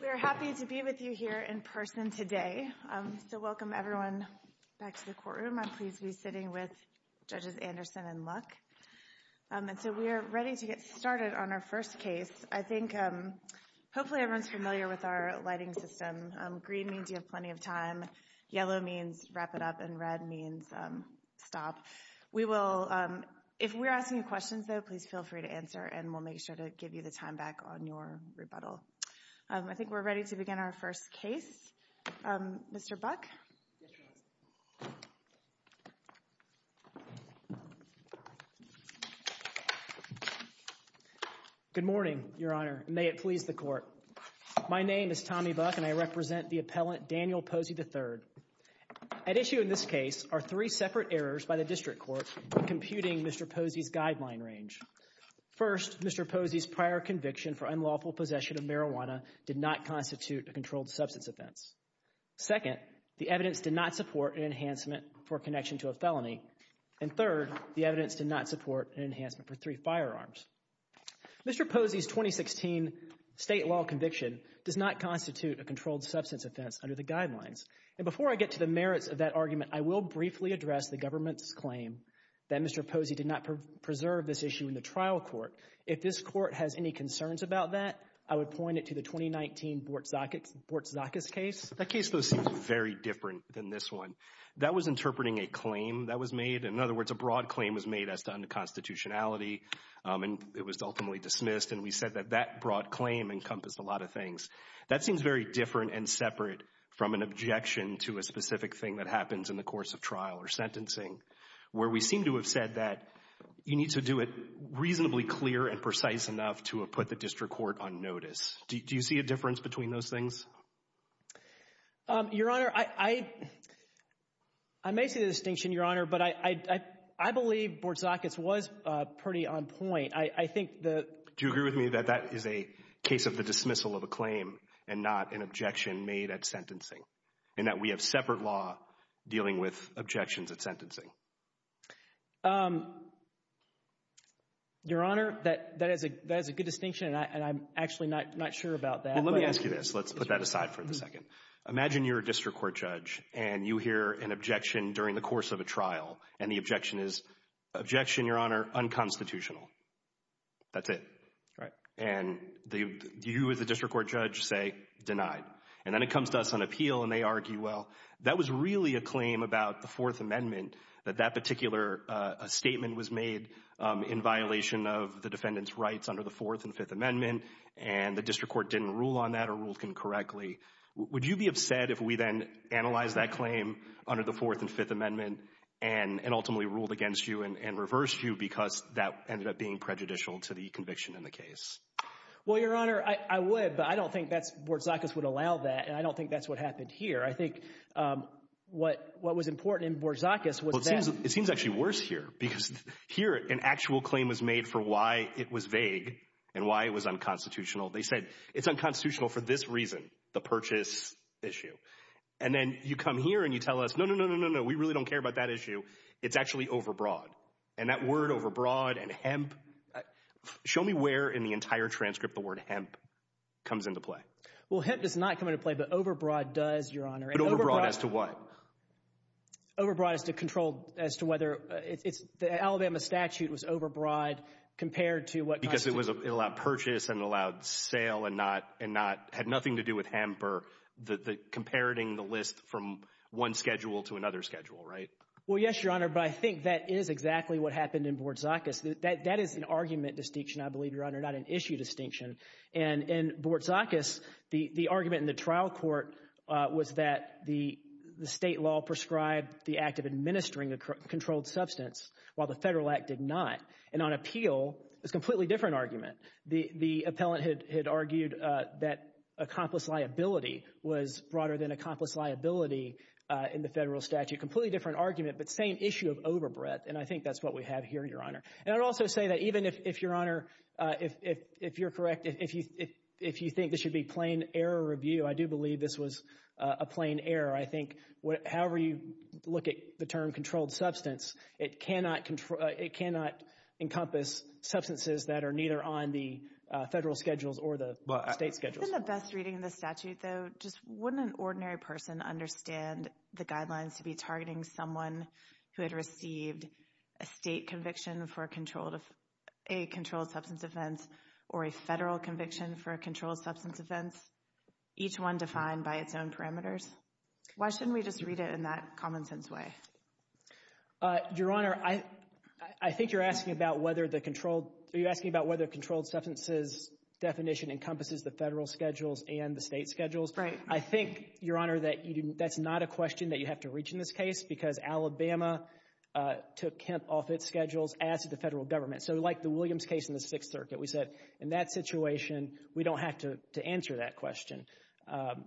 We are happy to be with you here in person today, so welcome everyone back to the courtroom. I'm pleased to be sitting with Judges Anderson and Luck, and so we are ready to get started on our first case. I think hopefully everyone's familiar with our lighting system. Green means you have plenty of time, yellow means wrap it up, and red means stop. If we're asking you questions, though, please feel free to answer, and we'll make sure to give you the time back on your rebuttal. I think we're ready to begin our first case. Mr. Buck? Good morning, Your Honor, and may it please the Court. My name is Tommy Buck, and I represent the appellant Daniel Posey, III. At issue in this case are three separate errors by the District Court in computing Mr. Posey's guideline range. First, Mr. Posey's prior conviction for unlawful possession of marijuana did not constitute a controlled substance offense. Second, the evidence did not support an enhancement for connection to a felony. And third, the evidence did not support an enhancement for three firearms. Mr. Posey's 2016 state law conviction does not constitute a controlled substance offense under the guidelines. And before I get to the merits of that argument, I will briefly address the government's claim that Mr. Posey did not preserve this issue in the trial court. If this Court has any concerns about that, I would point it to the 2019 Bortzakis case. That case, though, seems very different than this one. That was interpreting a claim that was made. In other words, a broad claim was made as to unconstitutionality, and it was ultimately dismissed. And we said that that broad claim encompassed a lot of things. That seems very different and separate from an objection to a specific thing that happens in the course of trial or sentencing, where we seem to have said that you need to do it reasonably clear and precise enough to have put the district court on notice. Do you see a difference between those things? Your Honor, I may see the distinction, Your Honor, but I believe Bortzakis was pretty on point. I think the— Do you agree with me that that is a case of the dismissal of a claim and not an objection made at sentencing, and that we have separate law dealing with objections at sentencing? Your Honor, that is a good distinction, and I'm actually not sure about that. Let me ask you this. Let's put that aside for a second. Imagine you're a district court judge, and you hear an objection during the course of a trial, and the objection is, objection, Your Honor, unconstitutional. That's it. Right. And you as a district court judge say, denied. And then it comes to us on appeal, and they argue, well, that was really a claim about the Fourth Amendment, that that particular statement was made in violation of the defendant's rights under the Fourth and Fifth Amendment, and the district court didn't rule on that or ruled incorrectly. Would you be upset if we then analyzed that claim under the Fourth and Fifth Amendment and ultimately ruled against you and reversed you because that ended up being prejudicial to the conviction in the case? Well, Your Honor, I would, but I don't think that's, Bortzakis would allow that, and I don't think that's what happened here. I think what was important in Bortzakis was that— Well, it seems actually worse here, because here an actual claim was made for why it was vague and why it was unconstitutional. They said, it's unconstitutional for this reason, the purchase issue. And then you come here and you tell us, no, no, no, no, no, no, we really don't care about that issue. It's actually overbroad. And that word overbroad and hemp, show me where in the entire transcript the word hemp comes into play. Well, hemp does not come into play, but overbroad does, Your Honor. But overbroad as to what? Overbroad as to control, as to whether—the Alabama statute was overbroad compared to what constitutes— Because it allowed purchase and allowed sale and had nothing to do with hemp or comparing the list from one schedule to another schedule, right? Well, yes, Your Honor, but I think that is exactly what happened in Bortzakis. That is an argument distinction, I believe, Your Honor, not an issue distinction. And in Bortzakis, the argument in the trial court was that the state law prescribed the act of administering a controlled substance, while the federal act did not. And on appeal, it's a completely different argument. The appellant had argued that accomplice liability was broader than accomplice liability in the federal statute. So it's a completely different argument, but same issue of overbreadth, and I think that's what we have here, Your Honor. And I would also say that even if, Your Honor, if you're correct, if you think this should be plain error review, I do believe this was a plain error. I think however you look at the term controlled substance, it cannot encompass substances that are neither on the federal schedules or the state schedules. Isn't the best reading of the statute, though, just wouldn't an ordinary person understand the guidelines to be targeting someone who had received a state conviction for a controlled substance offense or a federal conviction for a controlled substance offense, each one defined by its own parameters? Why shouldn't we just read it in that common sense way? Your Honor, I think you're asking about whether the controlled, you're asking about whether controlled substances definition encompasses the federal schedules and the state schedules. I think, Your Honor, that that's not a question that you have to reach in this case because Alabama took Kemp off its schedules as did the federal government. So like the Williams case in the Sixth Circuit, we said in that situation, we don't have to answer that question.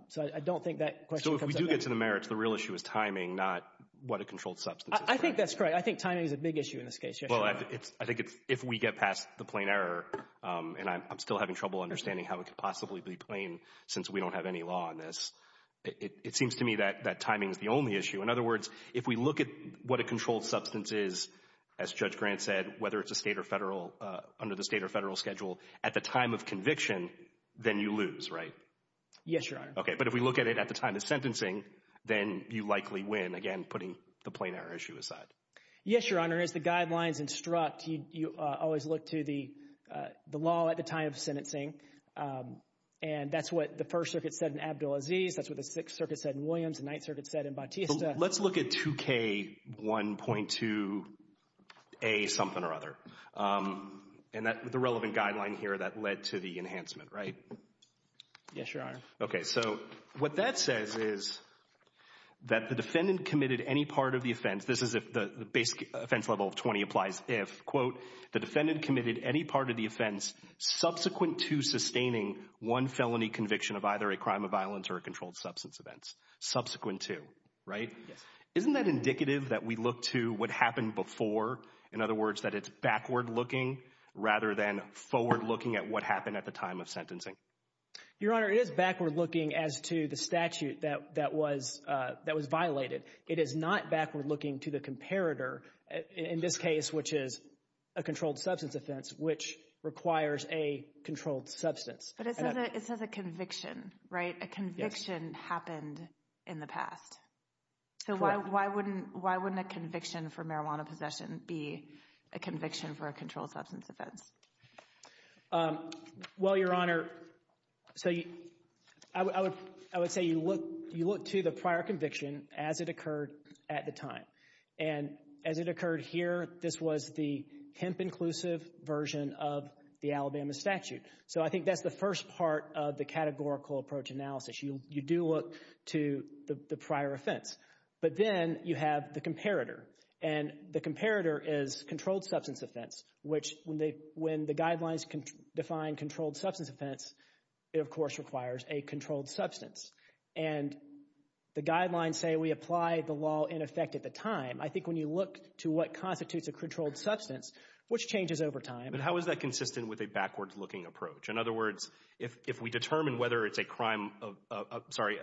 So I don't think that question comes up. So if we do get to the merits, the real issue is timing, not what a controlled substance is. I think that's correct. I think timing is a big issue in this case. Well, I think if we get past the plain error, and I'm still having trouble understanding how it could possibly be plain since we don't have any law on this, it seems to me that timing is the only issue. In other words, if we look at what a controlled substance is, as Judge Grant said, whether it's a state or federal, under the state or federal schedule, at the time of conviction, then you lose, right? Yes, Your Honor. Okay. But if we look at it at the time of sentencing, then you likely win, again, putting the plain error issue aside. Yes, Your Honor. As far as the guidelines instruct, you always look to the law at the time of sentencing. And that's what the First Circuit said in Abdul Aziz, that's what the Sixth Circuit said in Williams, the Ninth Circuit said in Bautista. Let's look at 2K1.2A something or other, and the relevant guideline here that led to the enhancement, right? Yes, Your Honor. Okay. So what that says is that the defendant committed any part of the offense. This is if the basic offense level of 20 applies, if, quote, the defendant committed any part of the offense subsequent to sustaining one felony conviction of either a crime of violence or a controlled substance offense. Subsequent to, right? Yes. Isn't that indicative that we look to what happened before? In other words, that it's backward-looking rather than forward-looking at what happened at the time of sentencing? Your Honor, it is backward-looking as to the statute that was violated. It is not backward-looking to the comparator, in this case, which is a controlled substance offense, which requires a controlled substance. But it says a conviction, right? A conviction happened in the past. So why wouldn't a conviction for marijuana possession be a conviction for a controlled substance offense? Well, Your Honor, so I would say you look to the prior conviction as it occurred at the time. And as it occurred here, this was the hemp-inclusive version of the Alabama statute. So I think that's the first part of the categorical approach analysis. You do look to the prior offense. But then you have the comparator. And the comparator is controlled substance offense, which when the guidelines define controlled substance offense, it, of course, requires a controlled substance. And the guidelines say we apply the law in effect at the time. I think when you look to what constitutes a controlled substance, which changes over time. But how is that consistent with a backward-looking approach? In other words, if we determine whether it's a crime of, sorry,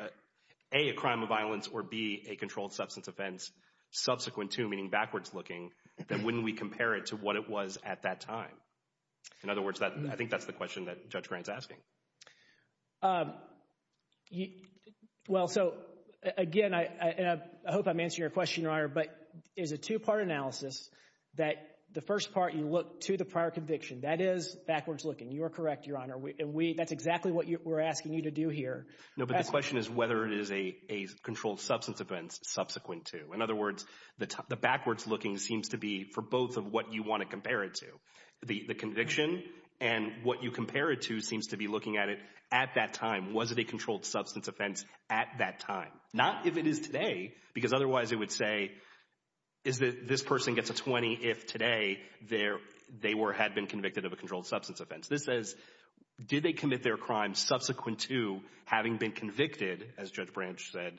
A, a crime of violence, or B, a controlled substance offense subsequent to, meaning backwards-looking, then wouldn't we compare it to what it was at that time? In other words, I think that's the question that Judge Grant's asking. Well, so again, and I hope I'm answering your question, Your Honor, but it's a two-part analysis that the first part, you look to the prior conviction. That is backwards-looking. You are correct, Your Honor. That's exactly what we're asking you to do here. No, but the question is whether it is a controlled substance offense subsequent to. In other words, the backwards-looking seems to be for both of what you want to compare it to. The conviction and what you compare it to seems to be looking at it at that time. Was it a controlled substance offense at that time? Not if it is today, because otherwise it would say, is that this person gets a 20 if today they were, had been convicted of a controlled substance offense. This says, did they commit their crime subsequent to having been convicted, as Judge Branch said,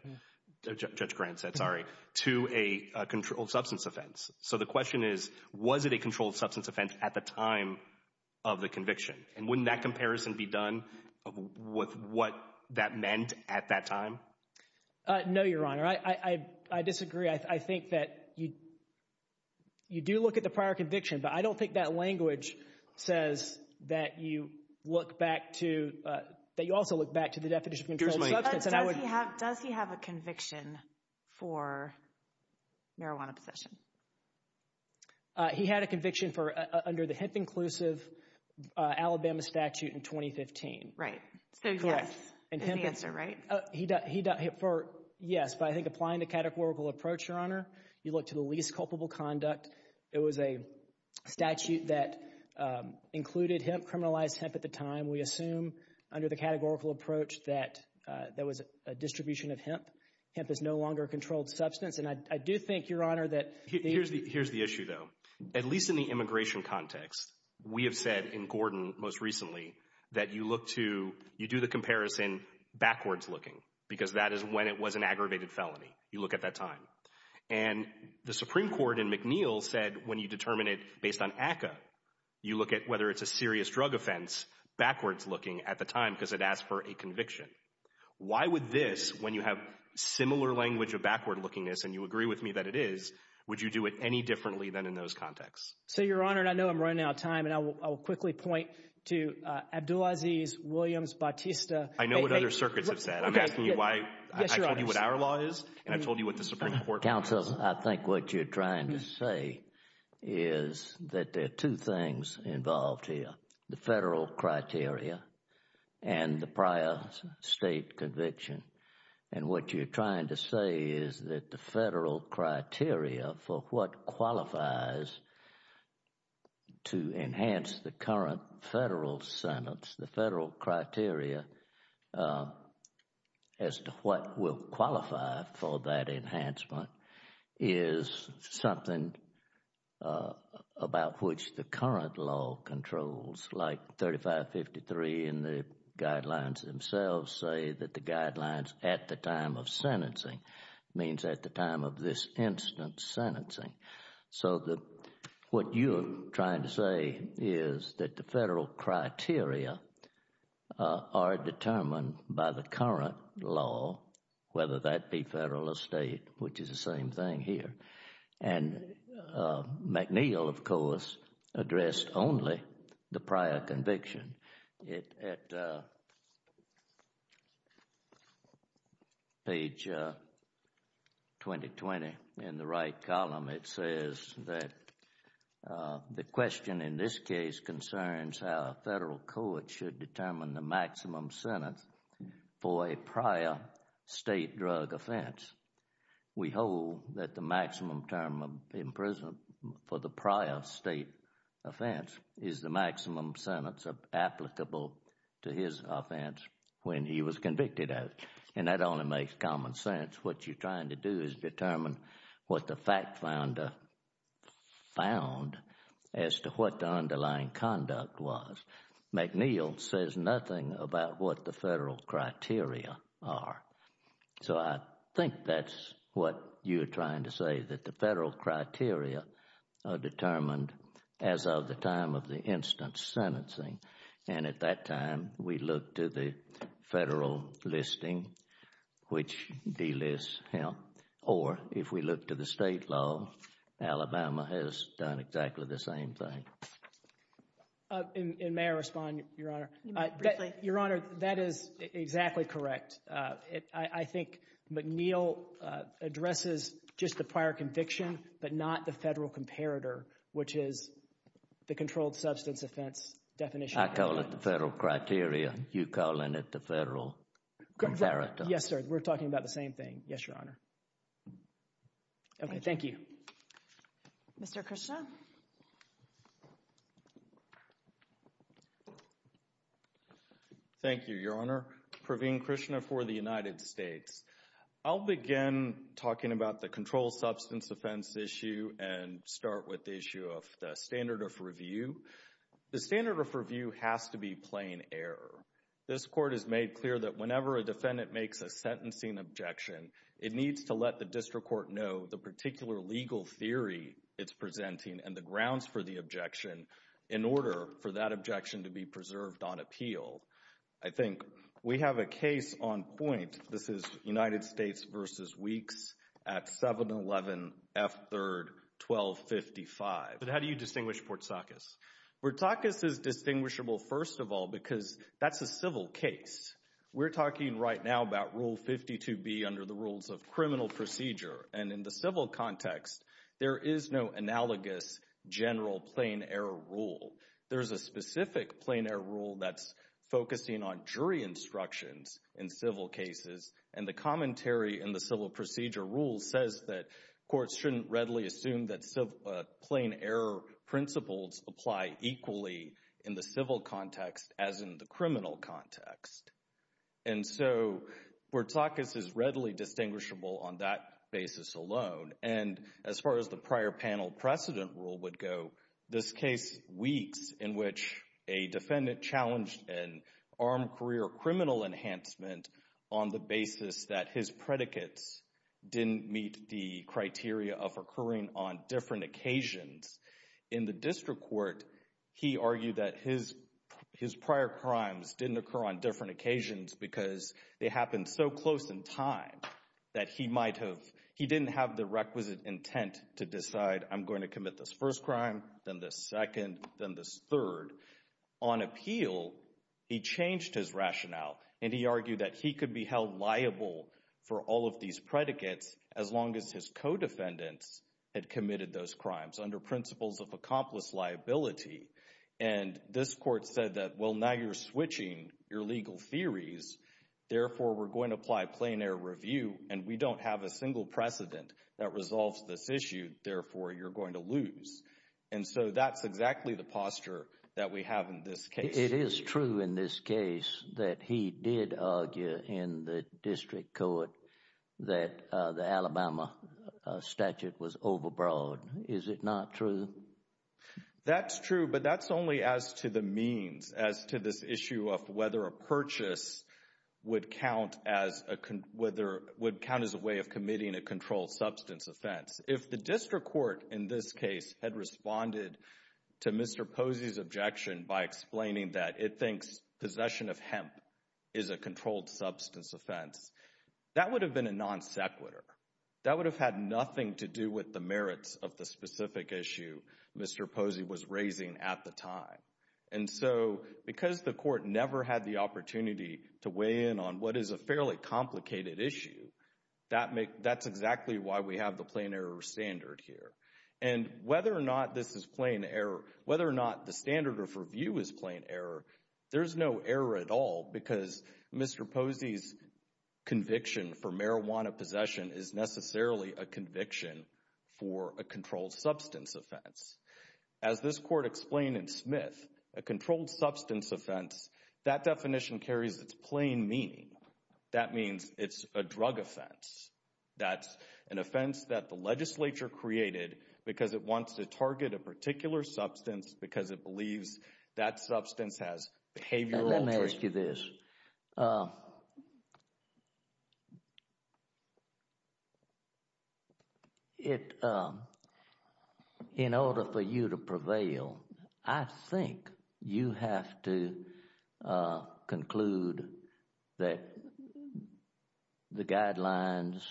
Judge Grant said, sorry, to a controlled substance offense. So the question is, was it a controlled substance offense at the time of the conviction? And wouldn't that comparison be done with what that meant at that time? No, Your Honor. I disagree. I think that you do look at the prior conviction, but I don't think that language says that you look back to, that you also look back to the definition of controlled substance. Does he have a conviction for marijuana possession? He had a conviction for, under the Hemp Inclusive Alabama statute in 2015. Right. So yes, is the answer, right? Yes, but I think applying the categorical approach, Your Honor, you look to the least culpable conduct. It was a statute that included hemp, criminalized hemp at the time. We assume under the categorical approach that there was a distribution of hemp. Hemp is no longer a controlled substance. And I do think, Your Honor, that the- Here's the issue though. At least in the immigration context, we have said in Gordon most recently, that you look to, you do the comparison backwards looking, because that is when it was an aggravated felony. You look at that time. And the Supreme Court in McNeil said, when you determine it based on ACCA, you look at whether it's a serious drug offense, backwards looking at the time, because it asked for a conviction. Why would this, when you have similar language of backward lookingness, and you agree with me that it is, would you do it any differently than in those contexts? So Your Honor, and I know I'm running out of time, and I will quickly point to Abdulaziz, Williams, Bautista- I know what other circuits have said. I'm asking you why- Yes, Your Honor. I told you what our law is, and I told you what the Supreme Court law is. Counsel, I think what you're trying to say is that there are two things involved here. The federal criteria and the prior state conviction. And what you're trying to say is that the federal criteria for what qualifies to enhance the current federal sentence, the federal criteria as to what will qualify for that enhancement is something about which the current law controls. Like 3553 and the guidelines themselves say that the guidelines at the time of sentencing means at the time of this instance sentencing. So what you're trying to say is that the federal criteria are determined by the current law, whether that be federal or state, which is the same thing here. And McNeil, of course, addressed only the prior conviction. At page 2020 in the right column, it says that the question in this case concerns how federal court should determine the maximum sentence for a prior state drug offense. We hold that the maximum term of imprisonment for the prior state offense is the maximum sentence applicable to his offense when he was convicted of. And that only makes common sense. What you're trying to do is determine what the fact found as to what the underlying conduct was. McNeil says nothing about what the federal criteria are. So I think that's what you're trying to say, that the federal criteria are determined as of the time of the instance sentencing. And at that time, we look to the federal listing, which delists him. Or if we look to the state law, Alabama has done exactly the same thing. And may I respond, Your Honor? Your Honor, that is exactly correct. I think McNeil addresses just the prior conviction, but not the federal comparator, which is the controlled substance offense definition. I call it the federal criteria. You're calling it the federal comparator. Yes, sir. We're talking about the same thing. Yes, Your Honor. Okay, thank you. Mr. Krishna. Thank you, Your Honor. Praveen Krishna for the United States. I'll begin talking about the controlled substance offense issue and start with the issue of the standard of review. The standard of review has to be plain error. This Court has made clear that whenever a defendant makes a sentencing objection, it needs to let the district court know the particular legal theory it's presenting and the grounds for the objection in order for that objection to be preserved on appeal. I think we have a case on point. This is United States v. Weeks at 711 F. 3rd 1255. How do you distinguish Portsakis? Portsakis is distinguishable, first of all, because that's a civil case. We're talking right now about Rule 52B under the rules of criminal procedure, and in the civil context, there is no analogous general plain error rule. There's a specific plain error rule that's focusing on jury instructions in civil cases, and the commentary in the civil procedure rule says that courts shouldn't readily assume that plain error principles apply equally in the civil context as in the criminal context. And so, Portsakis is readily distinguishable on that basis alone, and as far as the prior precedent rule would go, this case, Weeks, in which a defendant challenged an armed career criminal enhancement on the basis that his predicates didn't meet the criteria of occurring on different occasions, in the district court, he argued that his prior crimes didn't occur on different occasions because they happened so close in time that he didn't have the requisite intent to decide, I'm going to commit this first crime, then this second, then this third. On appeal, he changed his rationale, and he argued that he could be held liable for all of these predicates as long as his co-defendants had committed those crimes under principles of accomplice liability, and this court said that, well, now you're switching your legal theories, therefore, we're going to apply plain error review, and we don't have a single precedent that resolves this issue, therefore, you're going to lose. And so, that's exactly the posture that we have in this case. It is true in this case that he did argue in the district court that the Alabama statute was overbroad. Is it not true? That's true, but that's only as to the means, as to this issue of whether a purchase would count as a way of controlling substance offense. If the district court in this case had responded to Mr. Posey's objection by explaining that it thinks possession of hemp is a controlled substance offense, that would have been a non-sequitur. That would have had nothing to do with the merits of the specific issue Mr. Posey was raising at the time. And so, because the court never had the opportunity to weigh in on what is a fairly complicated issue, that's exactly why we have the plain error standard here. And whether or not this is plain error, whether or not the standard of review is plain error, there's no error at all because Mr. Posey's conviction for marijuana possession is necessarily a conviction for a controlled substance offense. As this court explained in Smith, a controlled That means it's a drug offense. That's an offense that the legislature created because it wants to target a particular substance because it believes that substance has behavioral... Let me ask you this. In order for you to prevail, I think you have to conclude that the guidelines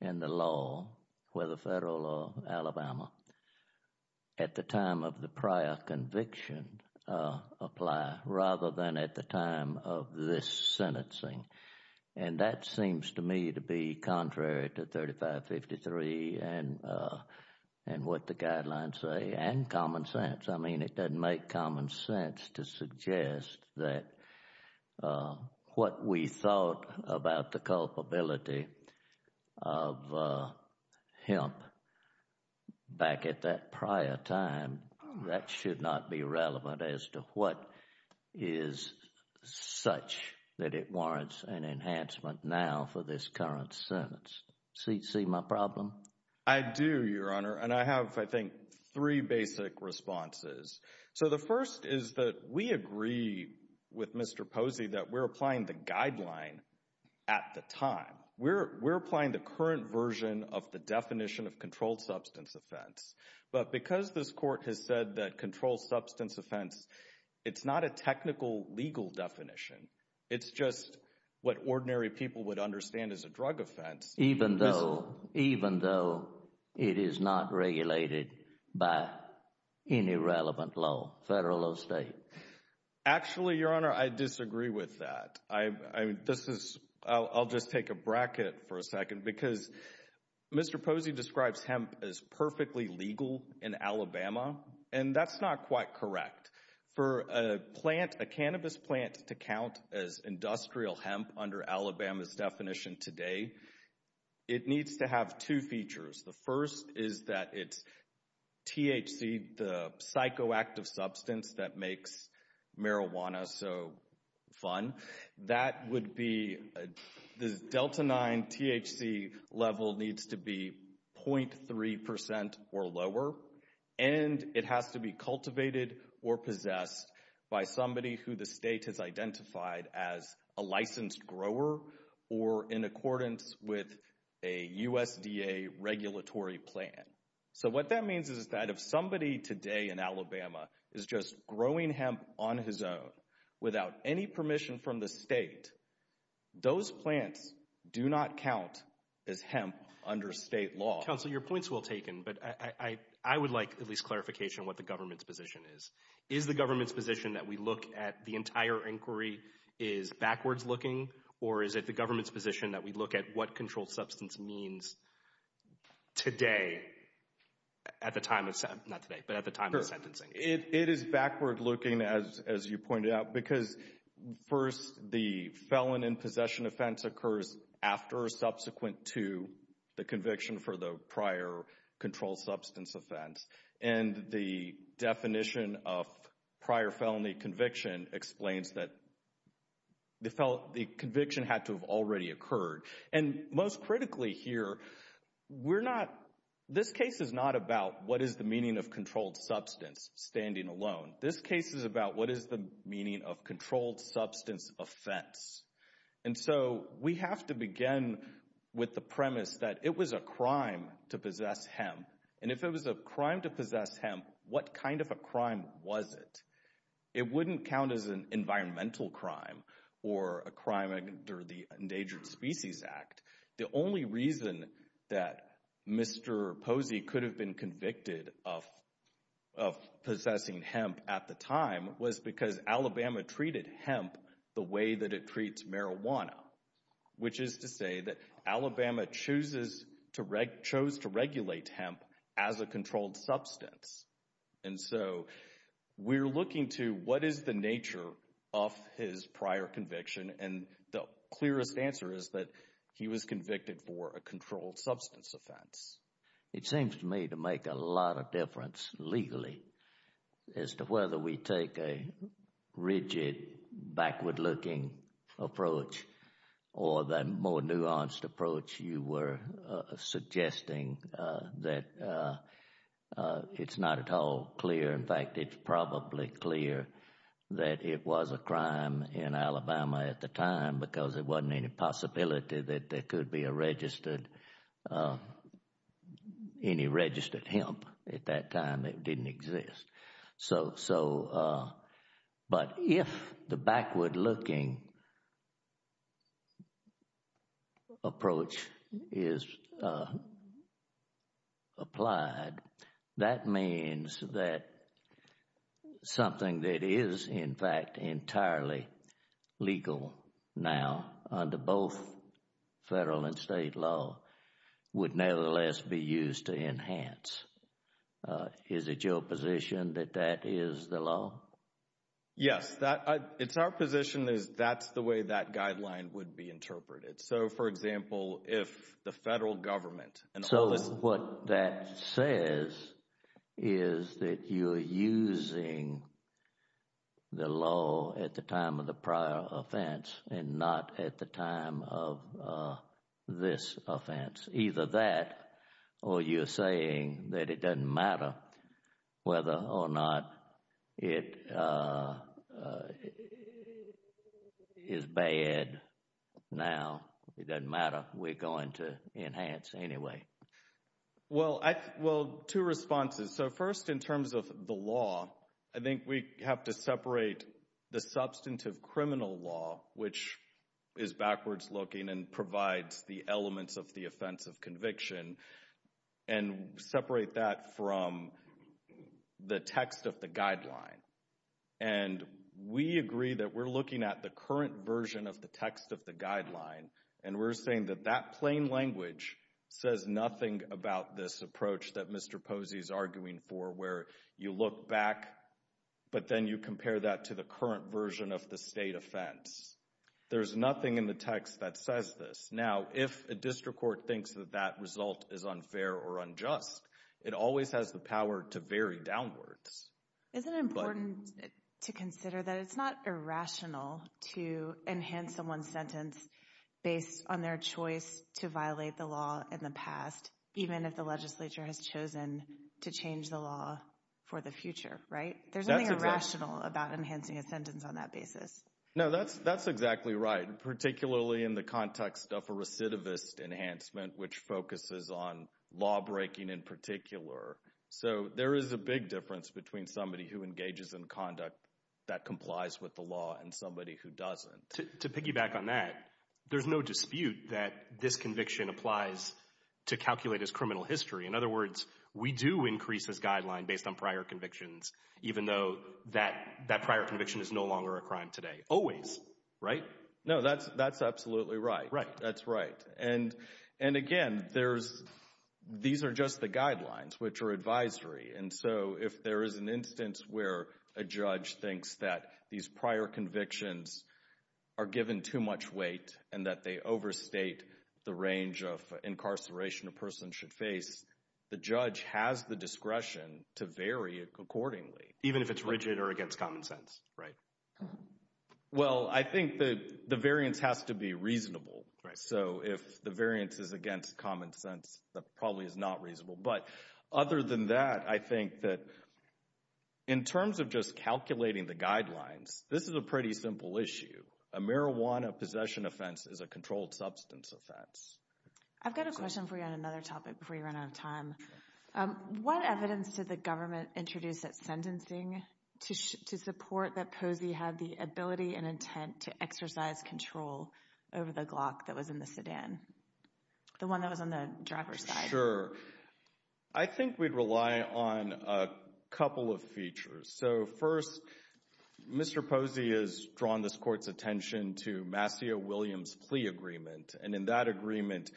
and the law, whether federal or Alabama, at the time of the prior conviction apply rather than at the time of this sentencing. And that seems to me to be contrary to 3553 and what the guidelines say and common sense. I mean, it doesn't make common sense to suggest that what we thought about the culpability of hemp back at that prior time, that should not be relevant as to what is such that it warrants an enhancement now for this current sentence. See my problem? I do, Your Honor, and I have, I think, three basic responses. So the first is that we agree with Mr. Posey that we're applying the guideline at the time. We're applying the current version of the definition of controlled substance offense. But because this court has said that controlled substance offense, it's not a technical, legal definition. It's just what ordinary people would understand as a drug offense. Even though, even though it is not regulated by any relevant law, federal or state. Actually, Your Honor, I disagree with that. I mean, this is, I'll just take a bracket for a second because Mr. Posey describes hemp as perfectly legal in Alabama, and that's not quite correct. For a plant, a cannabis plant to count as industrial hemp under Alabama's it needs to have two features. The first is that it's THC, the psychoactive substance that makes marijuana so fun. That would be, this Delta 9 THC level needs to be 0.3% or lower, and it has to be cultivated or possessed by somebody who the state has identified as a licensed grower or in accordance with a USDA regulatory plan. So what that means is that if somebody today in Alabama is just growing hemp on his own without any permission from the state, those plants do not count as hemp under state law. Counselor, your point's well taken, but I would like at least clarification on what the government's position is. Is the government's position that we look at the entire inquiry is backwards looking, or is it the government's position that we look at what controlled substance means today at the time of, not today, but at the time of sentencing? It is backward looking, as you pointed out, because first the felon in possession offense occurs after or subsequent to the prior felony conviction explains that the conviction had to have already occurred. And most critically here, we're not, this case is not about what is the meaning of controlled substance standing alone. This case is about what is the meaning of controlled substance offense. And so we have to begin with the premise that it was a crime to possess hemp, and if it was a crime to possess hemp, what kind of a crime was it? It wouldn't count as an environmental crime, or a crime under the Endangered Species Act. The only reason that Mr. Posey could have been convicted of possessing hemp at the time was because Alabama treated hemp the way that it was a controlled substance. And so we're looking to what is the nature of his prior conviction, and the clearest answer is that he was convicted for a controlled substance offense. It seems to me to make a lot of difference legally as to whether we take a rigid, backward-looking approach or the more nuanced approach you were suggesting that it's not at all clear. In fact, it's probably clear that it was a crime in Alabama at the time because there wasn't any possibility that there could be a registered, any registered hemp at that time. It didn't exist. So, but if the backward-looking approach is applied, that means that something that is, in fact, entirely legal now under both federal and state law would nevertheless be used to enhance. Is it your position that that is the way that guideline would be interpreted? So, for example, if the federal government— So, what that says is that you're using the law at the time of the prior offense and not at the time of this offense. Either that or you're saying that it doesn't matter whether or not it is bad now. It doesn't matter. We're going to enhance anyway. Well, I, well, two responses. So, first in terms of the law, I think we have to separate the substantive criminal law, which is backwards-looking and provides the elements of the offense of conviction, and separate that from the text of the guideline. And we agree that we're looking at the current version of the text of the guideline, and we're saying that that plain language says nothing about this approach that Mr. Posey is arguing for, where you look back, but then you compare that to the current version of the state offense. There's nothing in the text that says this. Now, if a district court thinks that that result is unfair or unjust, it always has the power to vary downwards. Isn't it important to consider that it's not irrational to enhance someone's sentence based on their choice to violate the law in the past, even if the legislature has chosen to change the law for the future, right? There's nothing irrational about enhancing a sentence on that basis. No, that's exactly right, particularly in the context of a law-breaking in particular. So there is a big difference between somebody who engages in conduct that complies with the law and somebody who doesn't. To piggyback on that, there's no dispute that this conviction applies to calculate as criminal history. In other words, we do increase this guideline based on prior convictions, even though that prior conviction is no longer a crime always, right? No, that's absolutely right. That's right. And again, these are just the guidelines, which are advisory. And so if there is an instance where a judge thinks that these prior convictions are given too much weight and that they overstate the range of incarceration a person should face, the judge has the discretion to vary it accordingly. Even if it's rigid or well, I think that the variance has to be reasonable, right? So if the variance is against common sense, that probably is not reasonable. But other than that, I think that in terms of just calculating the guidelines, this is a pretty simple issue. A marijuana possession offense is a controlled substance offense. I've got a question for you on another topic before we run out of time. What evidence did the government introduce at sentencing to support that Posey had the ability and intent to exercise control over the Glock that was in the sedan, the one that was on the driver's side? Sure. I think we'd rely on a couple of features. So first, Mr. Posey has drawn this court's attention to Mascio-Williams' plea agreement. And in that agreement,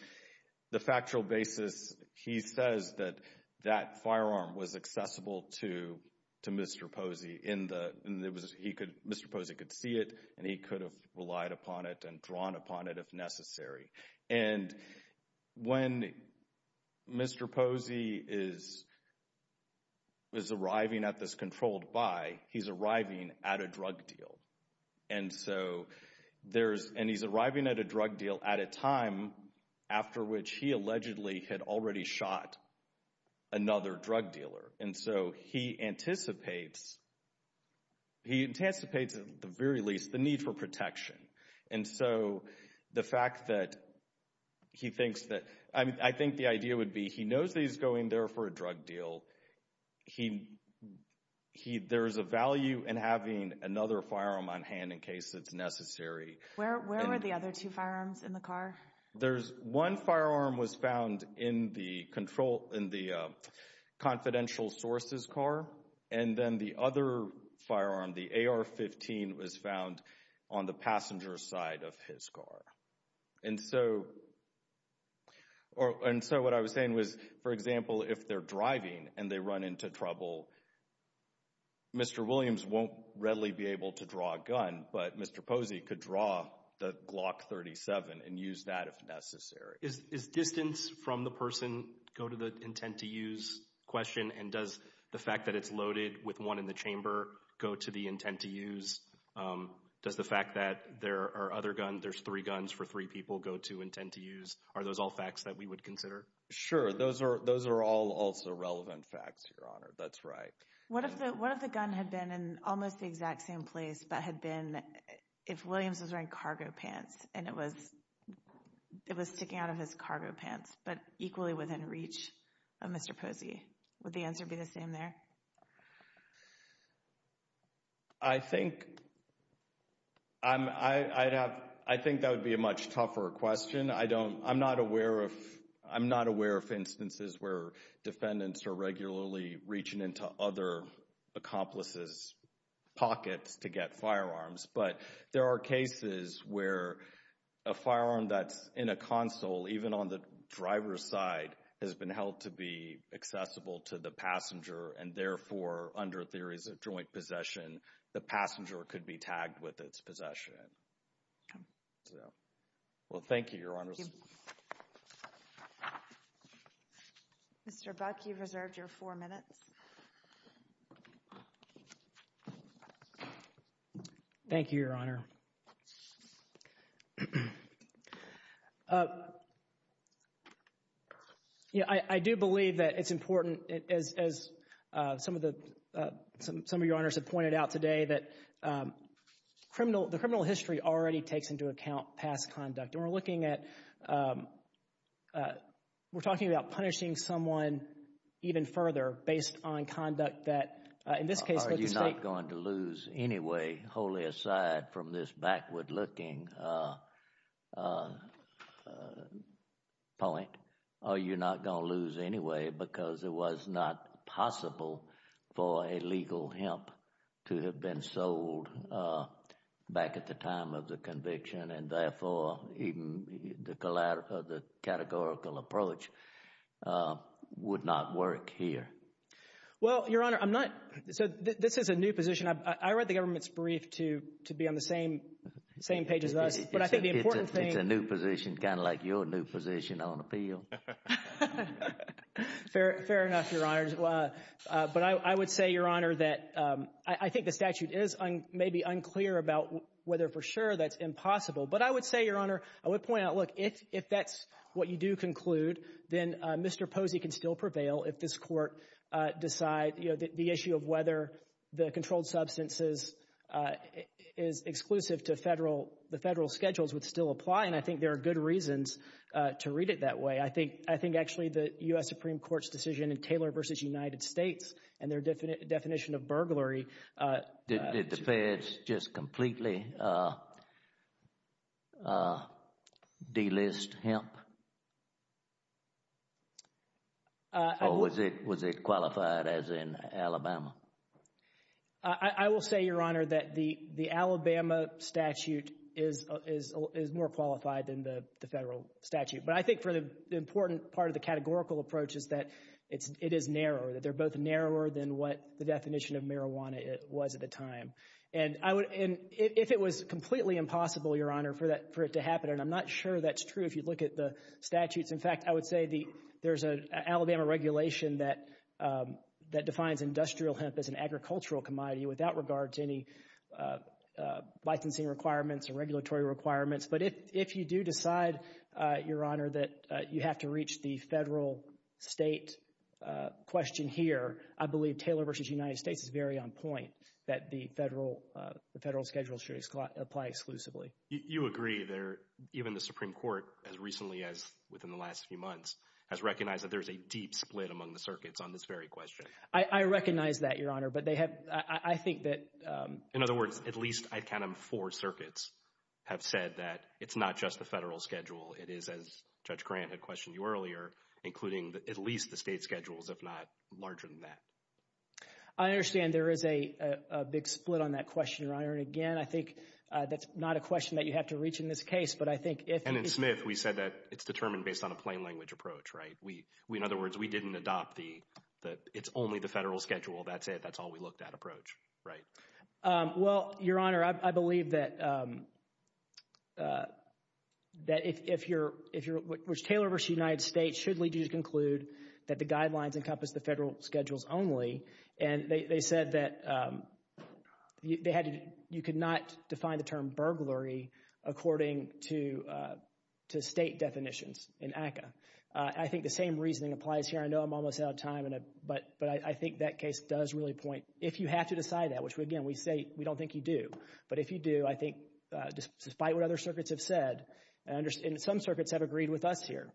the factual basis, he says that that firearm was accessible to Mr. Posey. Mr. Posey could see it and he could have relied upon it and drawn upon it if necessary. And when Mr. Posey is arriving at this controlled buy, he's arriving at a drug deal. And so there's, and he's arriving at a drug deal at a time after which he allegedly had already shot another drug dealer. And so he anticipates, he anticipates at the very least the need for protection. And so the fact that he thinks that, I think the idea would be he knows that he's going there for a drug deal. He, he, there's a value in having another firearm on hand in case it's necessary. Where, where were the other two firearms in the car? There's one firearm was found in the control, in the confidential sources car. And then the other firearm, the AR-15, was found on the passenger's side of his car. And so, or, and so what I was saying was, for example, if they're driving and they run into trouble, Mr. Williams won't readily be able to draw a gun, but Mr. Posey could draw the Glock 37 and use that if necessary. Is, is distance from the person go to the intent to use question? And does the fact that it's loaded with one in the chamber go to the intent to use? Does the fact that there are other guns, there's three guns for three people go to intent to use? Are those all facts that we would consider? Sure. Those are, those are all also relevant facts, Your Honor. That's right. What if the, what if the gun had been in almost the exact same place, but had been, if Williams was wearing cargo pants and it was, it was sticking out of his cargo pants, but equally within reach of Mr. Posey? Would the answer be the same there? I think, I'm, I'd have, I think that would be a much tougher question. I don't, I'm not aware of, I'm not aware of instances where defendants are regularly reaching into other accomplices' pockets to get firearms. But there are cases where a firearm that's in a console, even on the driver's side, has been held to be accessible to the passenger, and therefore, under theories of joint possession, the passenger could be tagged with its possession. So, well, thank you, Your Honor. Mr. Buck, you've reserved your four minutes. Thank you, Your Honor. You know, I, I do believe that it's important, as, as some of the, some, some of Your Honors have pointed out today, that criminal, the criminal history already takes into account past conduct. And we're looking at, we're talking about punishing someone even further based on conduct that, in this case, with the state... Are you not going to lose anyway, wholly aside from this backward-looking point? Are you not going to lose anyway because it was not possible for a legal hemp to have been sold back at the time of the conviction, and therefore, even the, the categorical approach would not work here? Well, Your Honor, I'm not, so this is a new position. I read the government's brief to, to be on the same, same page as us. But I think the important thing... It's a new position, kind of like your new position on appeal. Fair, fair enough, Your Honors. But I would say, Your Honor, that I think the statute is maybe unclear about whether for sure that's impossible. But I would say, Your Honor, I would point out, look, if, if that's what you do conclude, then Mr. Posey can still prevail if this court decide, you know, the issue of whether the controlled substances is exclusive to federal, the federal schedules would still apply. And I think there are good reasons to read it that way. I think, I think actually the U.S. Supreme Court's decision in Taylor v. United States and their definition of burglary... Did the feds just completely delist hemp? Or was it, was it qualified as in Alabama? I will say, Your Honor, that the, the Alabama statute is, is more qualified than the federal statute. But I think for the important part of the categorical approach is that it's, it is narrower, that they're both narrower than what the definition of marijuana was at the time. And I would, and if it was completely impossible, Your Honor, for that, for it to happen, and I'm not sure that's true if you look at the statutes. In fact, I would say the, there's an Alabama regulation that, that defines industrial hemp as an agricultural commodity without regard to any licensing requirements or regulatory requirements. But if, if you do decide, Your Honor, that you have to reach the federal state question here, I believe Taylor v. United States is very on point that the federal, the federal schedule should apply exclusively. You agree there, even the Supreme Court, as recently as within the last few months, has recognized that there's a deep split among the circuits on this very question. I recognize that, Your Honor, but they have, I think that... In other words, at least, I'd count them four circuits have said that it's not just the federal schedule. It is, as Judge Grant had questioned you earlier, including at least the state schedules, if not larger than that. I understand there is a, a big split on that question, Your Honor, and again, I think that's not a question that you have to reach in this case, but I think if... And in Smith, we said that it's determined based on a plain language approach, right? We, we, in other words, we didn't adopt the, it's only the federal schedule. That's it. That's all we looked at approach, right? Well, Your Honor, I believe that, that if, if you're, if you're, which Taylor v. United States should lead you to conclude that the guidelines encompass the federal schedules only, and they, they said that they had to, you could not define the term burglary according to, to state definitions in ACCA. I think the same reasoning applies here. I know I'm almost out of time, but, but I think that case does really point, if you have to decide that, which again, we say, we don't think you do, but if you do, I think despite what other circuits have said, and some circuits have agreed with us here,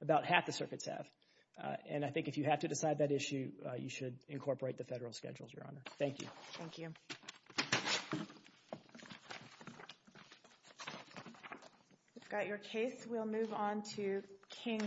about half the circuits have, and I think if you have to decide that issue, you should incorporate the federal schedules, Your Honor. Thank you. Thank you. We've got your case. We'll move on to King.